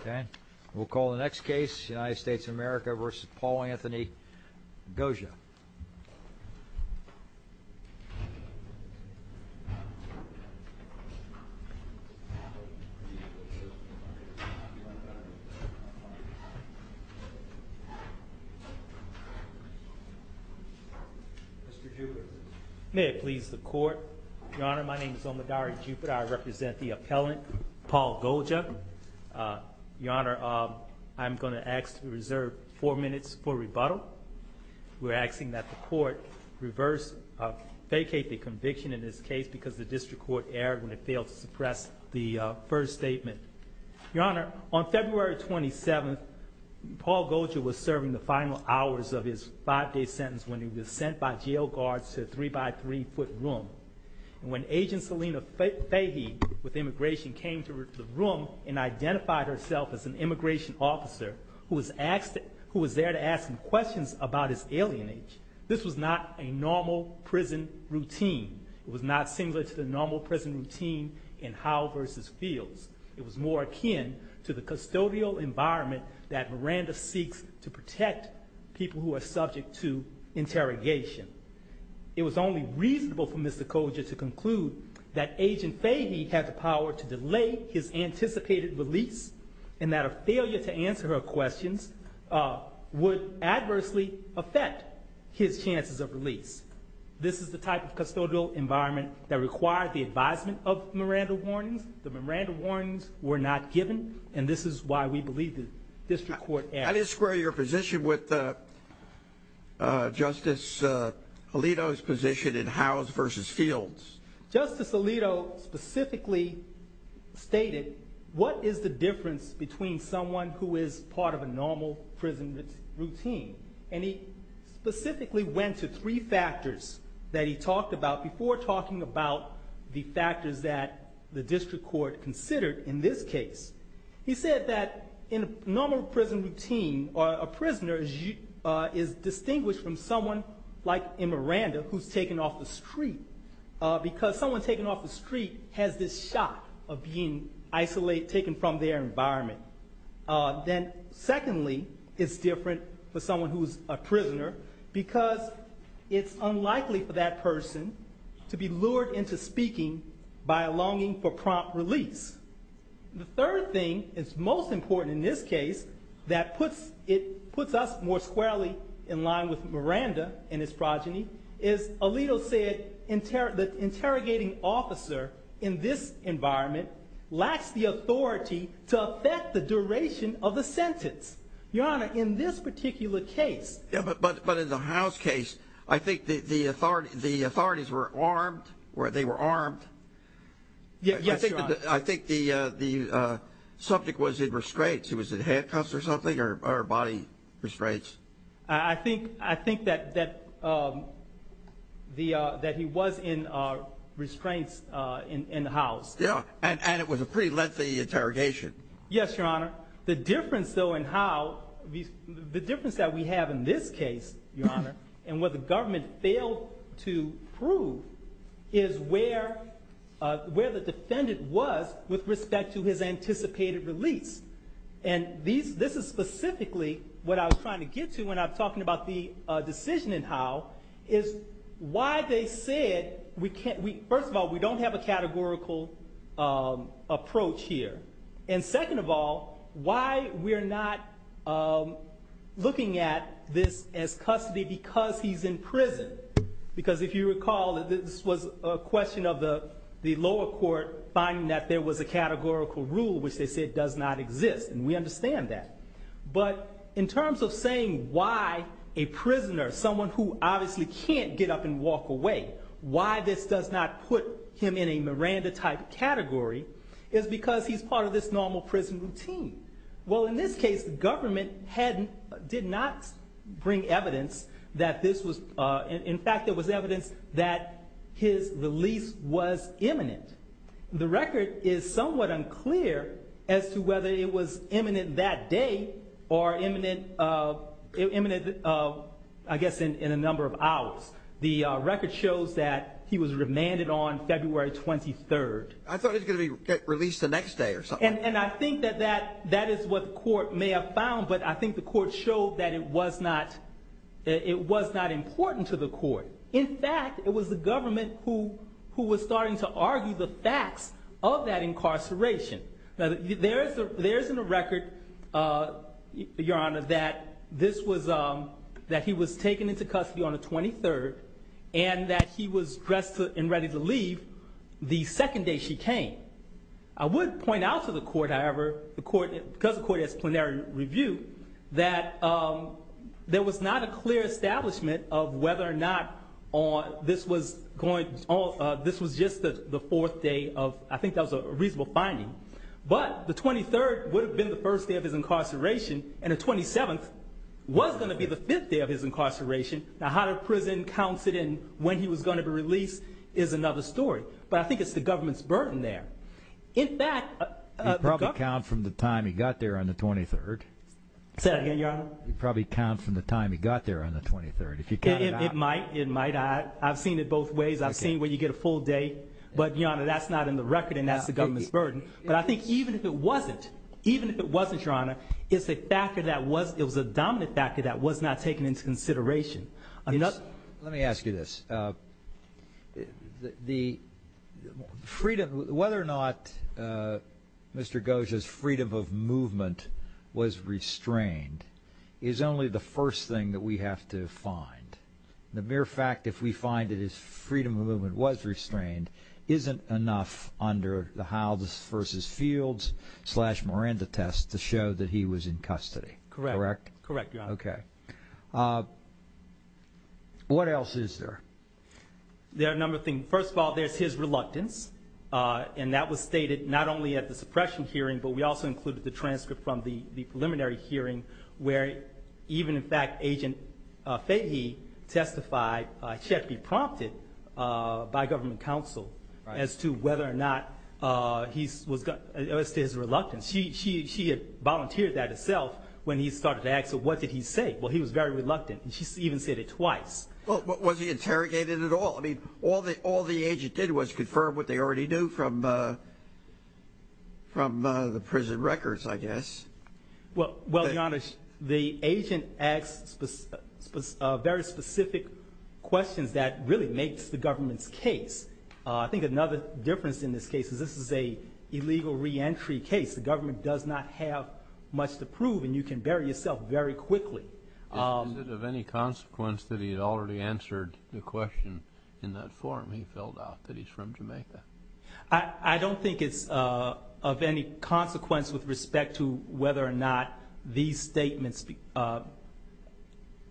Okay, we'll call the next case United States of America versus Paul Anthony Gojah May it please the court your honor. My name is Omodari Jupiter. I represent the appellant Paul Gojah Your honor, I'm going to ask to reserve four minutes for rebuttal We're asking that the court reverse Vacate the conviction in this case because the district court erred when it failed to suppress the first statement your honor on February 27th Paul Gojah was serving the final hours of his five-day sentence when he was sent by jail guards to a three-by-three foot room When agent Selena Fahey with immigration came to the room and identified herself as an immigration officer Who was asked who was there to ask him questions about his alien age? This was not a normal prison routine. It was not similar to the normal prison routine in Howell versus Fields It was more akin to the custodial environment that Miranda seeks to protect people who are subject to Gojah to conclude that agent Fahey had the power to delay his anticipated release and that a failure to answer her questions Would adversely affect his chances of release This is the type of custodial environment that required the advisement of Miranda warnings The Miranda warnings were not given and this is why we believe the district court and his square your position with Justice Alito's position in Howell's versus Fields Justice Alito specifically stated what is the difference between someone who is part of a normal prison routine and he Specifically went to three factors that he talked about before talking about The factors that the district court considered in this case He said that in a normal prison routine or a prisoner is Distinguished from someone like in Miranda who's taken off the street Because someone's taken off the street has this shock of being isolated taken from their environment then secondly, it's different for someone who's a prisoner because It's unlikely for that person to be lured into speaking by a longing for prompt release The third thing it's most important in this case that puts it puts us more squarely in line with Miranda and his Progeny is Alito said in terror the interrogating officer in this environment Lacks the authority to affect the duration of the sentence your honor in this particular case Yeah, but but but in the house case, I think the authority the authorities were armed where they were armed Yes, I think the the Subject was in restraints. He was in handcuffs or something or body restraints. I think I think that that The that he was in our restraints in the house. Yeah, and it was a pretty lengthy interrogation Yes, your honor the difference though and how these the difference that we have in this case Your honor and what the government failed to prove is where? Where the defendant was with respect to his anticipated release and these this is specifically what I was trying to get to when I'm talking about the decision and how is Why they said we can't we first of all, we don't have a categorical Approach here. And second of all why we're not Looking at this as custody because he's in prison Because if you recall that this was a question of the the lower court finding that there was a categorical rule which they said does not exist and we understand that but in terms of saying why a Prisoner someone who obviously can't get up and walk away Why this does not put him in a Miranda type category is because he's part of this normal prison routine Well in this case the government hadn't did not Bring evidence that this was in fact, there was evidence that His release was imminent The record is somewhat unclear as to whether it was imminent that day or imminent Imminent of I guess in a number of hours the record shows that he was remanded on February 23rd I thought it's gonna be released the next day or something and I think that that that is what the court may have found But I think the court showed that it was not It was not important to the court In fact, it was the government who who was starting to argue the facts of that incarceration There's there's in a record Your honor that this was um that he was taken into custody on the 23rd and that he was dressed and ready to leave The second day she came I would point out to the court however, the court because the court has plenary review that There was not a clear establishment of whether or not or this was going Oh, this was just the fourth day of I think that was a reasonable finding But the 23rd would have been the first day of his incarceration and a 27th Was going to be the fifth day of his incarceration Now how to prison counts it in when he was going to be released is another story But I think it's the government's burden there. In fact Probably count from the time he got there on the 23rd Said again, you're probably count from the time. He got there on the 23rd if you can it might it might I've seen it Both ways I've seen when you get a full day, but you know that that's not in the record and that's the government's burden But I think even if it wasn't even if it wasn't your honor It's a factor that was it was a dominant factor that was not taken into consideration. You know, let me ask you this The freedom whether or not Mr. Goja's freedom of movement was restrained is only the first thing that we have to find The mere fact if we find it is freedom of movement was restrained Isn't enough under the house versus fields slash Miranda test to show that he was in custody Correct, correct. Okay What else is there There are a number of things first of all, there's his reluctance And that was stated not only at the suppression hearing but we also included the transcript from the the preliminary hearing where even in fact agent Fahy Testified check be prompted by government counsel as to whether or not He's was got his reluctance. She she had volunteered that itself when he started to ask. So what did he say? Well, he was very reluctant and she's even said it twice What was he interrogated at all, I mean all the all the agent did was confirm what they already knew from From the prison records, I guess well, well the honest the agent asked Very specific questions that really makes the government's case. I think another difference in this case is this is a Illegal re-entry case the government does not have much to prove and you can bury yourself very quickly Of any consequence that he had already answered the question in that forum he filled out that he's from Jamaica I I don't think it's of any consequence with respect to whether or not these statements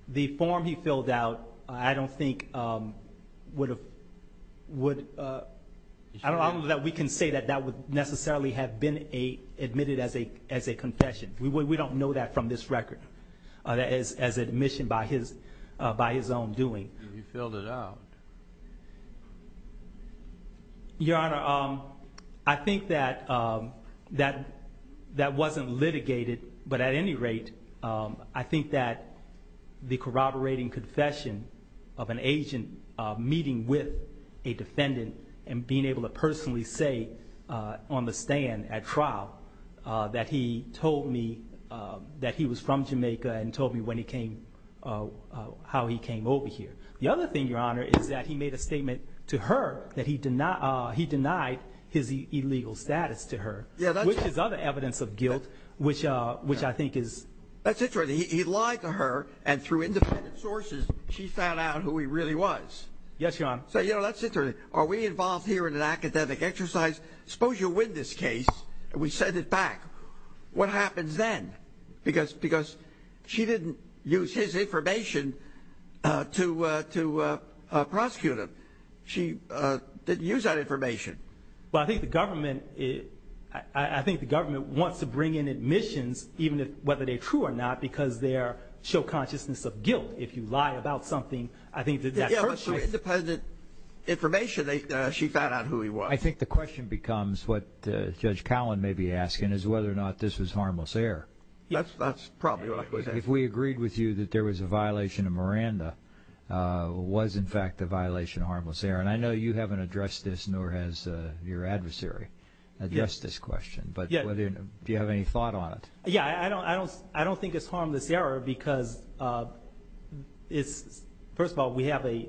The form he filled out I don't think would have would I Don't know that we can say that that would necessarily have been a admitted as a as a confession We don't know that from this record That is as admission by his by his own doing you filled it out Your honor, um, I think that that that wasn't litigated but at any rate I think that the corroborating confession of an agent meeting with a defendant and being able to personally say on the stand at trial That he told me That he was from Jamaica and told me when he came How he came over here The other thing your honor is that he made a statement to her that he did not he denied his illegal status to her Yeah, that's his other evidence of guilt, which which I think is that's it for the he lied to her and through independent sources She found out who he really was. Yes, your honor. So, you know, that's it Are we involved here in an academic exercise suppose you win this case and we send it back What happens then because because she didn't use his information to to prosecute him she Didn't use that information. Well, I think the government is I think the government wants to bring in admissions Even if whether they true or not because they're show consciousness of guilt if you lie about something, I think that's the president Information they she found out who he was I think the question becomes what judge Cowan may be asking is whether or not this was harmless air That's that's probably if we agreed with you that there was a violation of Miranda Was in fact a violation of harmless air and I know you haven't addressed this nor has your adversary Yes this question, but yeah, do you have any thought on it? Yeah, I don't I don't I don't think it's harmless error because It's first of all, we have a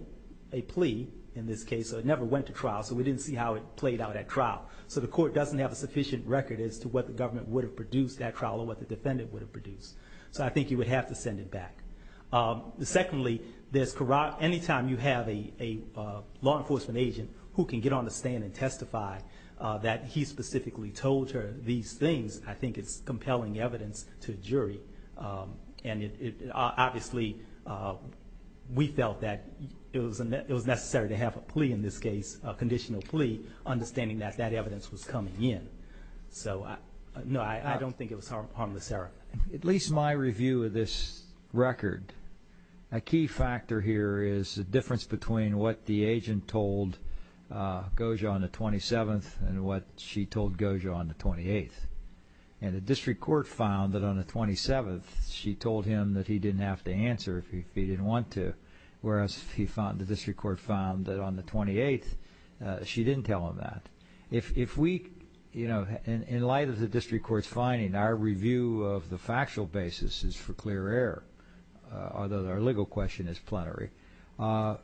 Plea in this case. So it never went to trial. So we didn't see how it played out at trial So the court doesn't have a sufficient record as to what the government would have produced that trial or what the defendant would have produced So I think you would have to send it back secondly, there's corrupt anytime you have a Law enforcement agent who can get on the stand and testify that he specifically told her these things I think it's compelling evidence to jury And it obviously We felt that it was a net it was necessary to have a plea in this case a conditional plea Understanding that that evidence was coming in So no, I don't think it was harmless error at least my review of this Record a key factor here is the difference between what the agent told Goja on the 27th and what she told Goja on the 28th and the district court found that on the 27th She told him that he didn't have to answer if he didn't want to whereas he found the district court found that on the 28th She didn't tell him that if we you know And in light of the district courts finding our review of the factual basis is for clear error Although our legal question is plenary How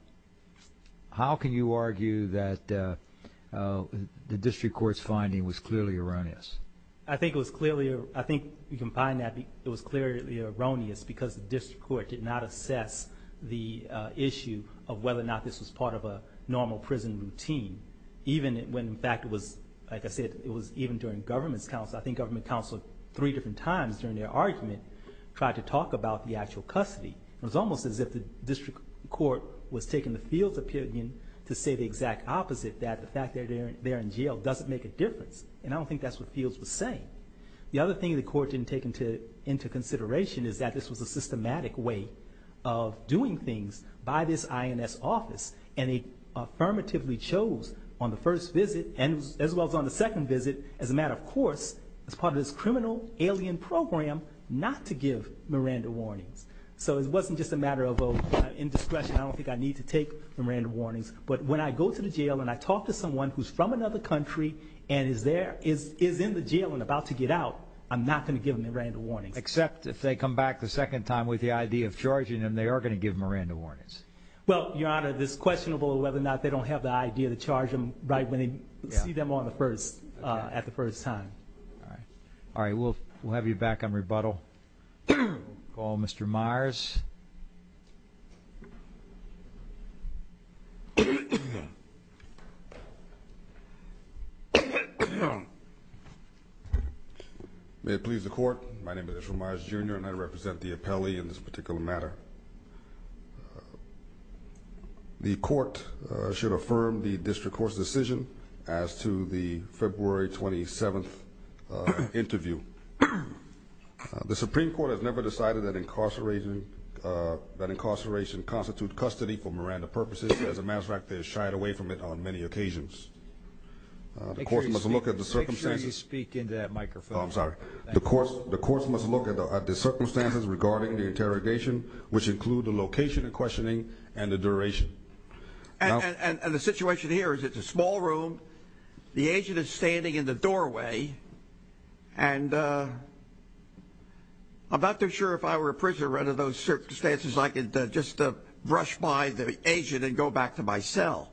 can you argue that The district courts finding was clearly erroneous I think it was clearly I think you can find that it was clearly erroneous because the district court did not assess the Issue of whether or not this was part of a normal prison routine Even when in fact it was like I said, it was even during government's counsel I think government counsel three different times during their argument tried to talk about the actual custody It was almost as if the district court was taking the fields opinion to say the exact opposite that the fact that they're in jail Doesn't make a difference and I don't think that's what fields was saying the other thing the court didn't take into into consideration is that this was a systematic way of doing things by this INS office and they Affirmatively chose on the first visit and as well as on the second visit as a matter of course As part of this criminal alien program not to give Miranda warnings, so it wasn't just a matter of oh in discretion I don't think I need to take Miranda warnings But when I go to the jail and I talk to someone who's from another country and is there is is in the jail and about To get out. I'm not going to give him a random warning except if they come back the second time with the idea of charging And they are going to give Miranda warnings Well, your honor this questionable whether or not they don't have the idea to charge them right when they see them on the first At the first time. All right. All right. We'll we'll have you back on rebuttal Call, mr. Myers May it please the court. My name is Ramirez jr. And I represent the appellee in this particular matter The Court should affirm the district court's decision as to the February 27th interview The Supreme Court has never decided that incarcerating That incarceration constitute custody for Miranda purposes as a matter of fact, they're shied away from it on many occasions The court must look at the circumstances speak into that microphone The course the course must look at the circumstances regarding the interrogation which include the location and questioning and the duration And the situation here is it's a small room. The agent is standing in the doorway and I'm not too sure if I were a prisoner under those circumstances like it just brush by the agent and go back to my cell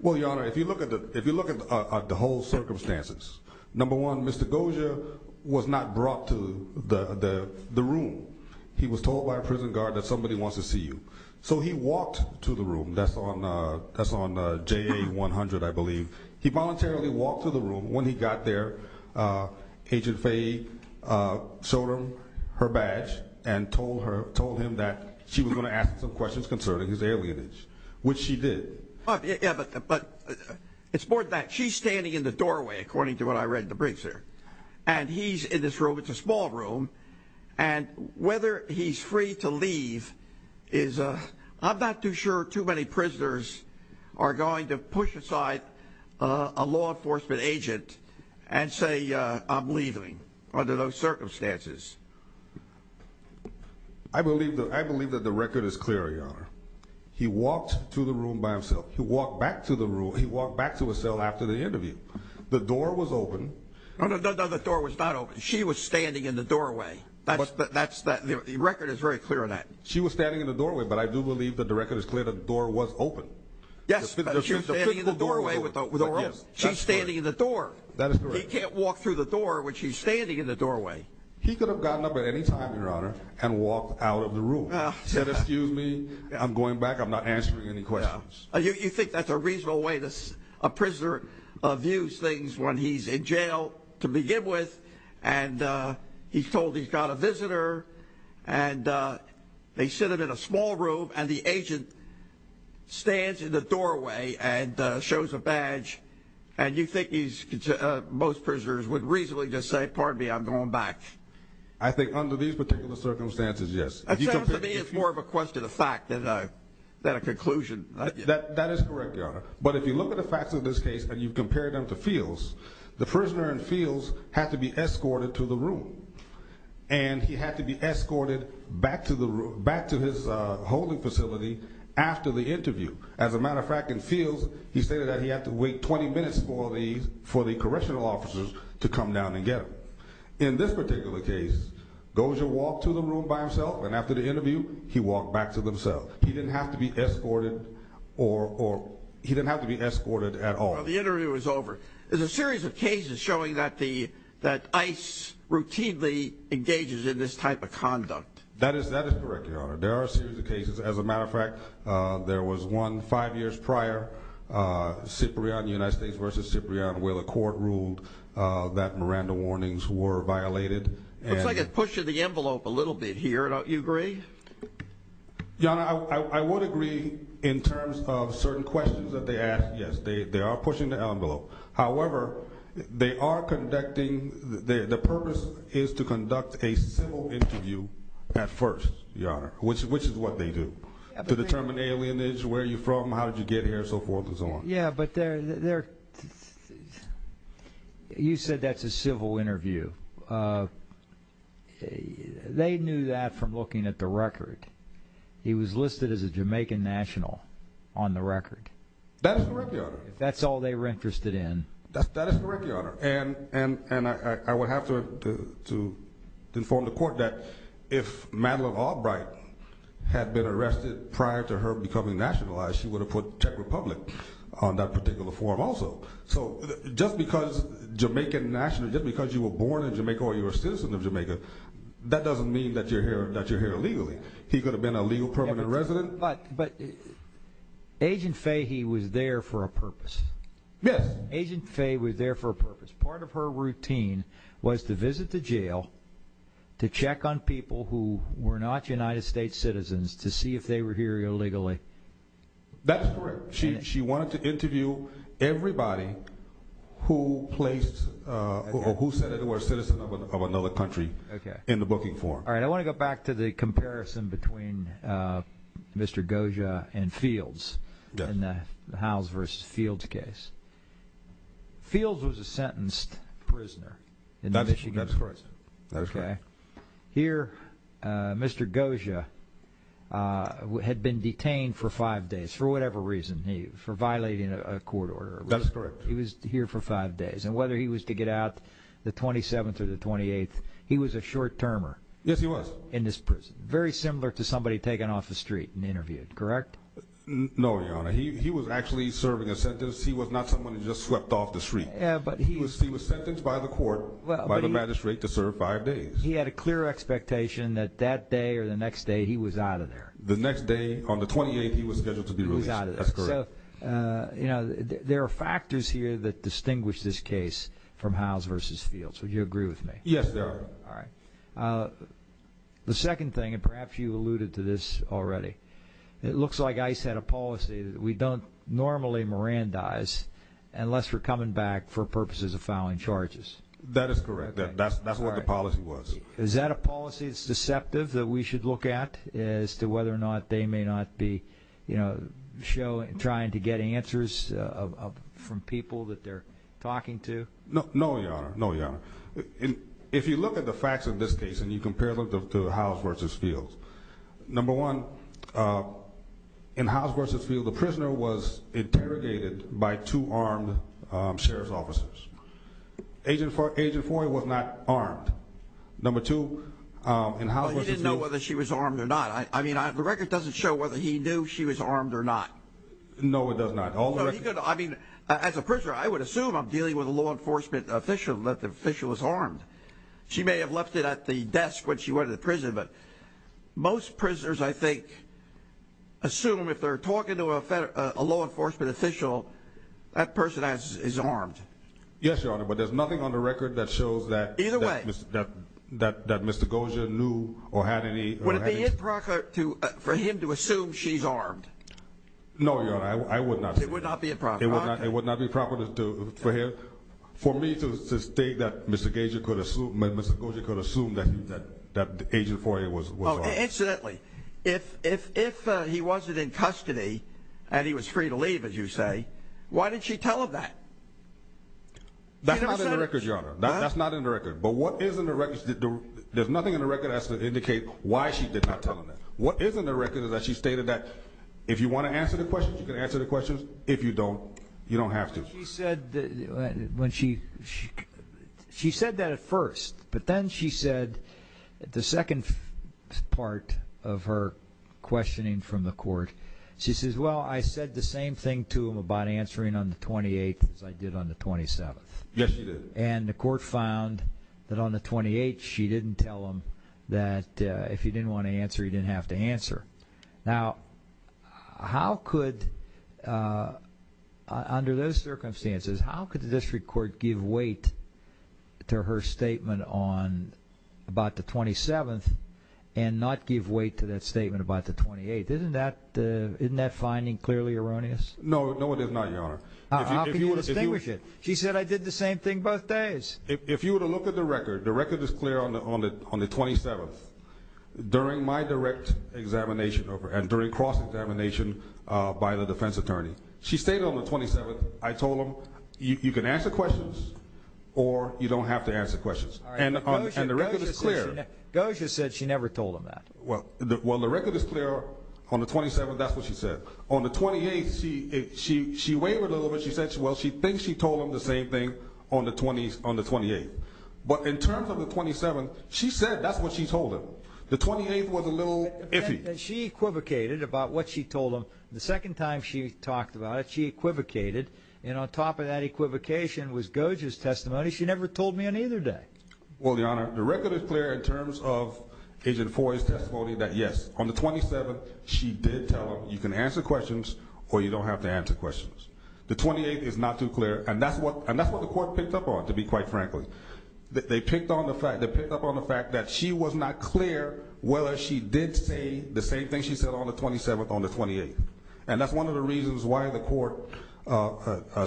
Well, your honor if you look at the if you look at the whole circumstances Number one, mr. Goja was not brought to the the room He was told by a prison guard that somebody wants to see you. So he walked to the room. That's on That's on j-a-100. I believe he voluntarily walked to the room when he got there agent Faye Showed him her badge and told her told him that she was going to ask some questions concerning his alien age, which she did but It's more that she's standing in the doorway according to what I read in the briefs here and he's in this room it's a small room and Whether he's free to leave is a I'm not too sure too many prisoners are going to push aside A law enforcement agent and say I'm leaving under those circumstances. I Walked back to a cell after the interview the door was open Oh, no, the door was not open. She was standing in the doorway. That's that's that the record is very clear on that She was standing in the doorway, but I do believe that the record is clear. The door was open. Yes She's standing in the door that he can't walk through the door when she's standing in the doorway He could have gotten up at any time your honor and walked out of the room said, excuse me. I'm going back Any questions you think that's a reasonable way this a prisoner of use things when he's in jail to begin with and he's told he's got a visitor and They sit it in a small room and the agent stands in the doorway and shows a badge and you think he's Most prisoners would reasonably just say pardon me. I'm going back. I think under these particular circumstances. Yes It's more of a question of fact that I that a conclusion that that is correct Your honor, but if you look at the facts of this case and you've compared them to feels the prisoner and feels have to be escorted to the room and He had to be escorted back to the room back to his holding facility After the interview as a matter of fact in fields He stated that he had to wait 20 minutes for these for the correctional officers to come down and get him in this particular case Dozier walked to the room by himself and after the interview he walked back to themselves. He didn't have to be escorted or He didn't have to be escorted at all. The interview is over. There's a series of cases showing that the that ice Routinely engages in this type of conduct that is that is correct. Your honor. There are a series of cases as a matter of fact There was one five years prior Cyprian United States versus Cyprian where the court ruled that Miranda warnings were violated It's like it's pushing the envelope a little bit here. Don't you agree? Yeah, I would agree in terms of certain questions that they asked. Yes, they are pushing the envelope. However, They are conducting the purpose is to conduct a civil interview at first Yeah, which which is what they do to determine alien is where you from. How did you get here so forth and so on? Yeah, but they're You said that's a civil interview Hey, they knew that from looking at the record He was listed as a Jamaican national on the record That's all they were interested in and and and I would have to Inform the court that if Madeline Albright Had been arrested prior to her becoming nationalized. She would have put Czech Republic on that particular form also Just because Jamaican national just because you were born in Jamaica or you're a citizen of Jamaica That doesn't mean that you're here that you're here illegally. He could have been a legal permanent resident, but but Agent Fahey was there for a purpose. Yes agent Fahey was there for a purpose part of her routine was to visit the jail To check on people who were not United States citizens to see if they were here illegally That's correct. She wanted to interview everybody Who placed? Who said it were citizen of another country? Okay in the booking form. All right. I want to go back to the comparison between Mr. Goja and fields in the house versus fields case Fields was a sentenced prisoner in that she got a choice. Okay here. Mr. Goja Who had been detained for five days for whatever reason he for violating a court order that's correct He was here for five days and whether he was to get out the 27th or the 28th. He was a short-termer Yes, he was in this prison very similar to somebody taken off the street and interviewed, correct? No, he was actually serving a sentence. He was not someone who just swept off the street Yeah, but he was he was sentenced by the court by the magistrate to serve five days He had a clear expectation that that day or the next day he was out of there the next day on the 28th He was scheduled to be without it You know, there are factors here that distinguish this case from house versus field. So you agree with me? Yes, sir. All right The second thing and perhaps you alluded to this already. It looks like ice had a policy that we don't normally Mirandize unless we're coming back for purposes of filing charges. That is correct. That's that's what the policy was Is that a policy? It's deceptive that we should look at as to whether or not they may not be, you know Show and trying to get answers From people that they're talking to no, no, no Yeah, and if you look at the facts of this case and you compare them to house versus field number one In house versus feel the prisoner was interrogated by two armed sheriff's officers Agent for agent for it was not armed number two And how I didn't know whether she was armed or not I mean, I have the record doesn't show whether he knew she was armed or not No, it does not all I mean as a prisoner I would assume I'm dealing with a law enforcement official that the official was armed she may have left it at the desk when she went to prison, but most prisoners I think Assume if they're talking to a federal law enforcement official that person as is armed Yes, your honor, but there's nothing on the record that shows that either way that that that mr Goja knew or had any would it be improper to for him to assume she's armed No, I would not it would not be a problem. It would not be proper to do for him for me to state that Mr. Gage you could assume mr. Goja could assume that that agent for he was Incidentally if if if he wasn't in custody and he was free to leave as you say, why didn't she tell him that? That's not in the record, but what is in the records that do there's nothing in the record has to indicate why she did not Tell him that what isn't the record is that she stated that if you want to answer the questions you can answer the questions if you don't you don't have to she said when she She said that at first, but then she said the second part of her Questioning from the court. She says well, I said the same thing to him about answering on the 28th as I did on the 27th Yes, and the court found that on the 28th. She didn't tell him that If you didn't want to answer you didn't have to answer now How could? Under those circumstances, how could the district court give weight? to her statement on About the 27th and Not give weight to that statement about the 28th. Isn't that isn't that finding clearly erroneous? No, no, it is not your honor She said I did the same thing both days if you were to look at the record the record is clear on the on it on the 27th During my direct examination over and during cross examination by the defense attorney. She stayed on the 27th I told him you can answer questions or You don't have to answer questions and on the record is clear. Go. She said she never told him that well Well, the record is clear on the 27th. That's what she said on the 28th. She she she wavered a little bit She said well, she thinks she told him the same thing on the 20s on the 28th But in terms of the 27 she said that's what she told him the 28th was a little iffy She equivocated about what she told him the second time. She talked about it Equivocated and on top of that equivocation was gorgeous testimony. She never told me on either day Well, the honor the record is clear in terms of agent for his testimony that yes on the 27th She did tell him you can answer questions or you don't have to answer questions The 28th is not too clear and that's what and that's what the court picked up on to be quite frankly They picked on the fact that picked up on the fact that she was not clear Whether she did say the same thing On the 27th on the 28th, and that's one of the reasons why the court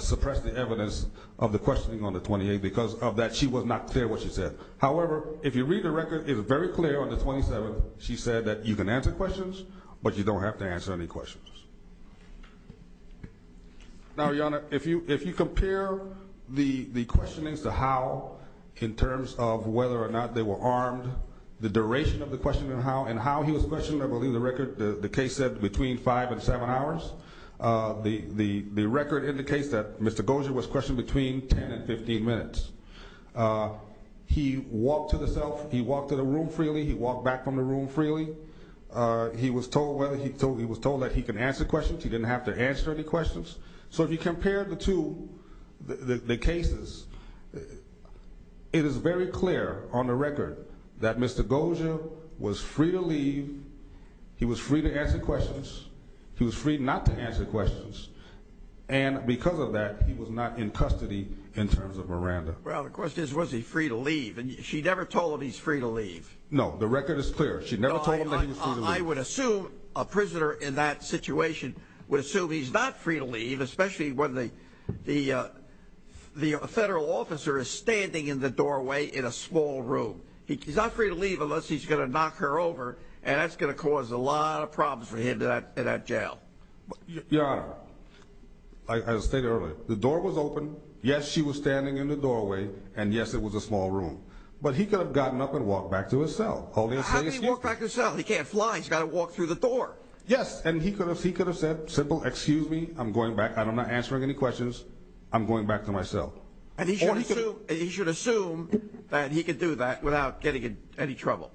Suppressed the evidence of the questioning on the 28th because of that she was not clear what she said However, if you read the record is very clear on the 27th She said that you can answer questions, but you don't have to answer any questions Now your honor if you if you compare the the question is to how In terms of whether or not they were armed the duration of the question and how and how he was questioned I believe the record the case said between 5 and 7 hours The the the record indicates that mr. Goja was questioned between 10 and 15 minutes He walked to the self. He walked to the room freely. He walked back from the room freely He was told whether he told he was told that he can answer questions. He didn't have to answer any questions So if you compare the two the cases It is very clear on the record that mr. Goja was free to leave He was free to answer questions. He was free not to answer questions and Because of that he was not in custody in terms of Miranda Well, the question is was he free to leave and she never told him he's free to leave No, the record is clear. She never told him I would assume a prisoner in that situation would assume he's not free to leave especially when they the The federal officer is standing in the doorway in a small room He's not free to leave unless he's gonna knock her over and that's gonna cause a lot of problems for him to that in that jail your honor I Stated earlier the door was open. Yes. She was standing in the doorway. And yes, it was a small room But he could have gotten up and walked back to his cell. Oh, yeah He can't fly. He's got to walk through the door. Yes, and he could have he could have said simple. Excuse me I'm going back. I don't know answering any questions I'm going back to myself and he should assume he should assume that he could do that without getting in any trouble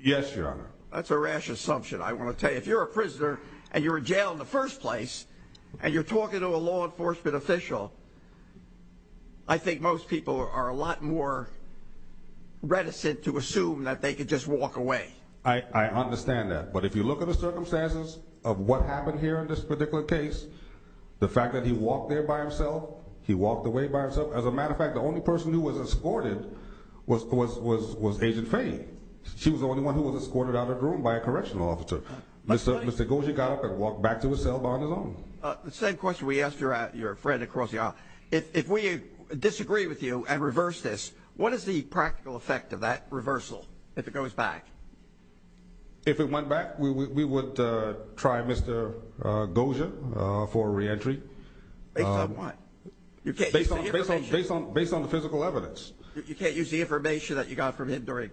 Yes, your honor. That's a rash assumption I want to tell you if you're a prisoner and you're in jail in the first place and you're talking to a law enforcement official. I Think most people are a lot more Reticent to assume that they could just walk away. I Understand that but if you look at the circumstances of what happened here in this particular case The fact that he walked there by himself He walked away by herself as a matter of fact, the only person who was escorted was was was was agent Faye She was the only one who was escorted out of the room by a correctional officer Mr. Mr. Goji got up and walked back to his cell on his own the same question We asked her out your friend across the aisle if we disagree with you and reverse this What is the practical effect of that reversal if it goes back? If it went back we would try mr. Goja for re-entry Based on the physical evidence you can't use the information that you got from him during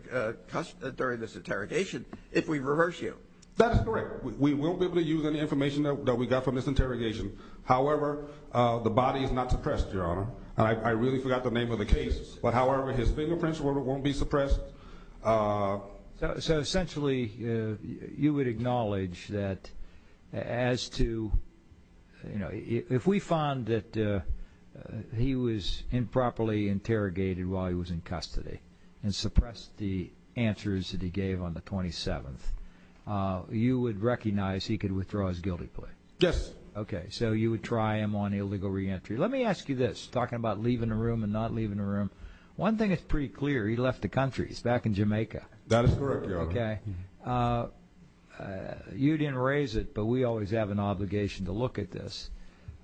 During this interrogation if we reverse you that's correct. We will be able to use any information that we got from this interrogation However, the body is not suppressed your honor. I really forgot the name of the case. But however, his fingerprints won't be suppressed So essentially you would acknowledge that as to you know if we found that He was improperly interrogated while he was in custody and suppressed the answers that he gave on the 27th You would recognize he could withdraw his guilty plea. Yes. Okay, so you would try him on illegal re-entry Let me ask you this talking about leaving the room and not leaving the room one thing. It's pretty clear He left the country. He's back in Jamaica. That is correct. Okay You didn't raise it, but we always have an obligation to look at this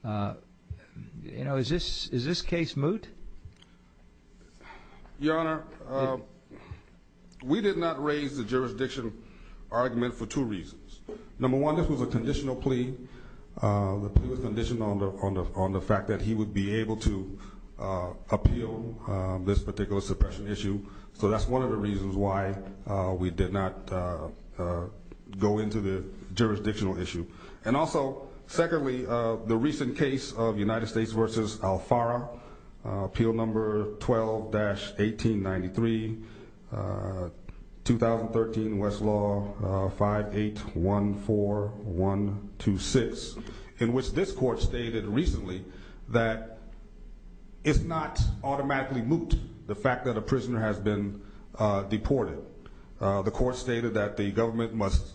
You know, is this is this case moot Your honor We did not raise the jurisdiction argument for two reasons number one this was a conditional plea the condition on the on the on the fact that he would be able to Appeal this particular suppression issue. So that's one of the reasons why we did not Go into the jurisdictional issue and also secondly the recent case of United States versus Alfara appeal number 12 dash 1893 2013 Westlaw 5 8 1 4 1 2 6 in which this court stated recently that It's not automatically moot the fact that a prisoner has been Deported the court stated that the government must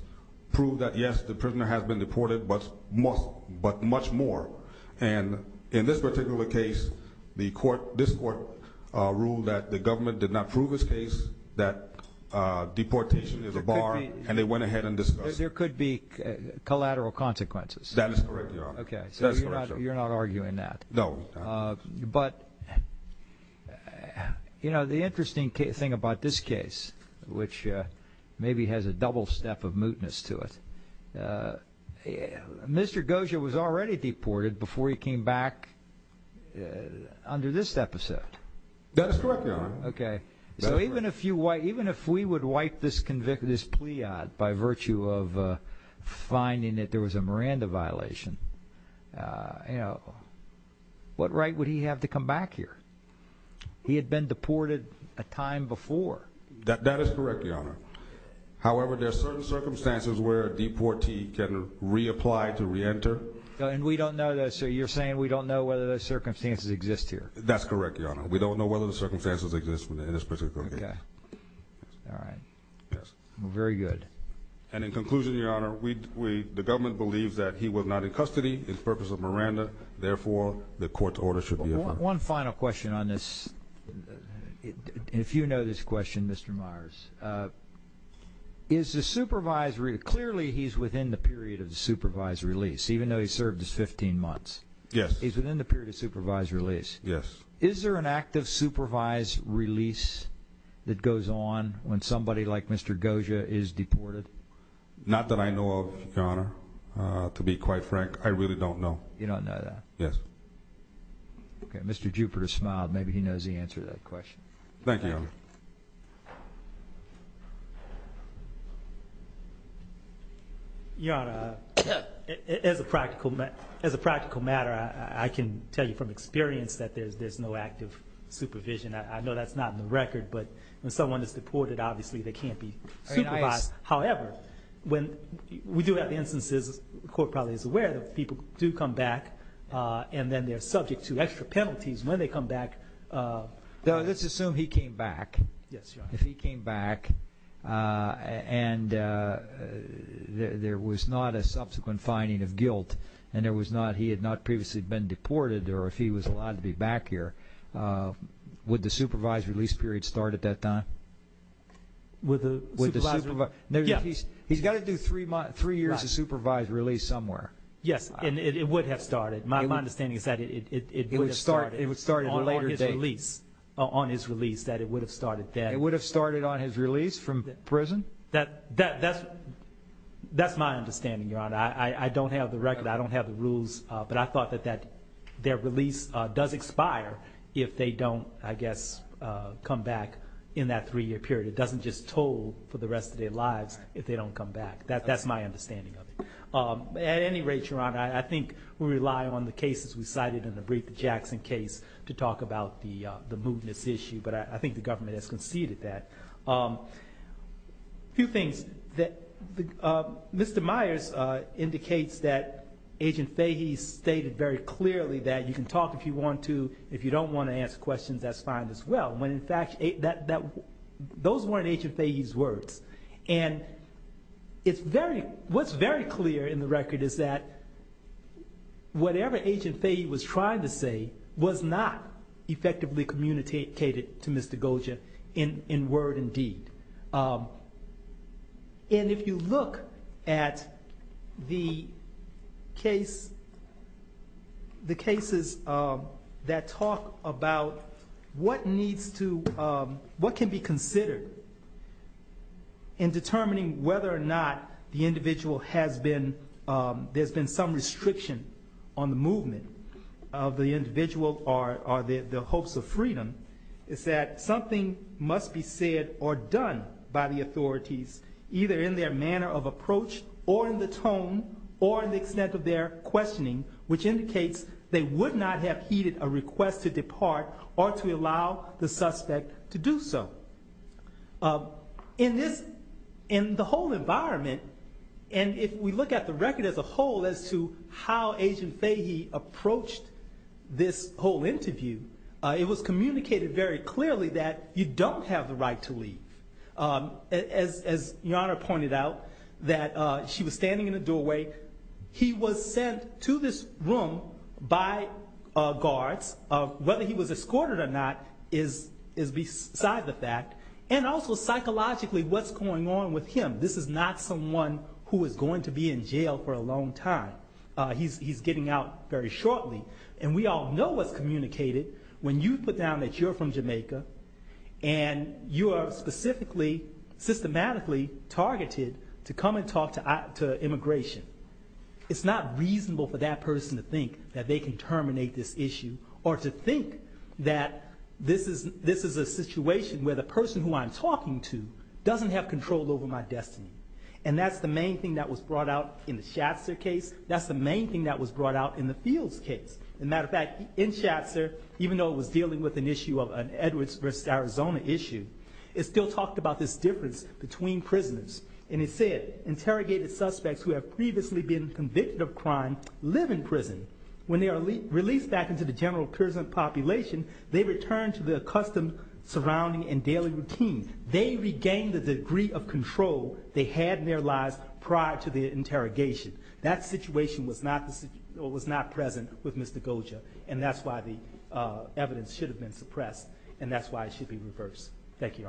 prove that yes, the prisoner has been deported But most but much more and in this particular case the court this court ruled that the government did not prove his case that Deportation is a bar and they went ahead and there could be Collateral consequences. That is correct. Okay, so you're not arguing that no but You know the interesting case thing about this case which maybe has a double step of mootness to it Mr. Goja was already deported before he came back Under this episode Okay, so even a few white even if we would wipe this convict this plea odd by virtue of Finding that there was a Miranda violation You know What right would he have to come back here He had been deported a time before that that is correct your honor However, there are certain circumstances where a deportee can reapply to re-enter and we don't know that sir You're saying we don't know whether those circumstances exist here. That's correct your honor. We don't know whether the circumstances exist for this particular. Yeah All right. Yes, very good. And in conclusion your honor The government believes that he was not in custody in purpose of Miranda, therefore the court's order should be one final question on this If you know this question, mr. Myers Is the supervisory clearly he's within the period of the supervised release even though he served his 15 months Yes, he's within the period of supervised release. Yes. Is there an active supervised release? That goes on when somebody like mr. Goja is deported Not that I know of your honor to be quite frank, I really don't know you don't know that yes Okay, mr. Jupiter smiled. Maybe he knows the answer to that question. Thank you You know As a practical met as a practical matter. I can tell you from experience that there's there's no active supervision I know that's not in the record. But when someone is deported, obviously, they can't be However when we do have instances the court probably is aware that people do come back And then they're subject to extra penalties when they come back Though let's assume he came back. Yes, if he came back and There was not a subsequent finding of guilt and there was not he had not previously been deported or if he was allowed to be back here Would the supervised release period start at that time? With the with the supervisor. Yeah, he's he's got to do three months three years of supervised release somewhere Yes And it would have started my understanding is that it would start it would start a later release On his release that it would have started that it would have started on his release from prison that that that's That's my understanding your honor. I I don't have the record I don't have the rules, but I thought that that their release does expire if they don't I guess Come back in that three-year period. It doesn't just toll for the rest of their lives if they don't come back that That's my understanding of it At any rate your honor. I think we rely on the cases We cited in the brief the Jackson case to talk about the the movements issue, but I think the government has conceded that Few things that Mr. Myers indicates that Agent Fahey stated very clearly that you can talk if you want to if you don't want to answer questions that's fine as well when in fact a that that those weren't agent Fahey's words and It's very what's very clear in the record. Is that? Whatever agent Fahey was trying to say was not effectively communicated to mr. Goja in in word and deed And if you look at the case the cases that talk about what needs to what can be considered in Determining whether or not the individual has been There's been some restriction on the movement of the individual or are there the hopes of freedom? It's that something must be said or done by the authorities Either in their manner of approach or in the tone or the extent of their questioning which indicates They would not have heeded a request to depart or to allow the suspect to do so in this in the whole environment and If we look at the record as a whole as to how agent Fahey approached This whole interview it was communicated very clearly that you don't have the right to leave As your honor pointed out that she was standing in a doorway He was sent to this room by guards of whether he was escorted or not is is Beside the fact and also psychologically what's going on with him? This is not someone who is going to be in jail for a long time he's getting out very shortly and we all know what's communicated when you put down that you're from Jamaica and You are specifically systematically targeted to come and talk to Immigration It's not reasonable for that person to think that they can terminate this issue or to think that This is this is a situation where the person who I'm talking to Doesn't have control over my destiny and that's the main thing that was brought out in the Shatzer case That's the main thing that was brought out in the fields case and matter of fact in Shatzer Even though it was dealing with an issue of an Edwards versus Arizona issue It still talked about this difference between prisoners and it said Interrogated suspects who have previously been convicted of crime live in prison when they are released back into the general prison population They returned to the accustomed surrounding and daily routine. They regained the degree of control They had in their lives prior to the interrogation that situation was not this it was not present with mr Goja, and that's why the Suppressed and that's why it should be reversed. Thank you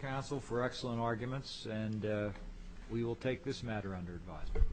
Council for excellent arguments and we will take this matter under advisement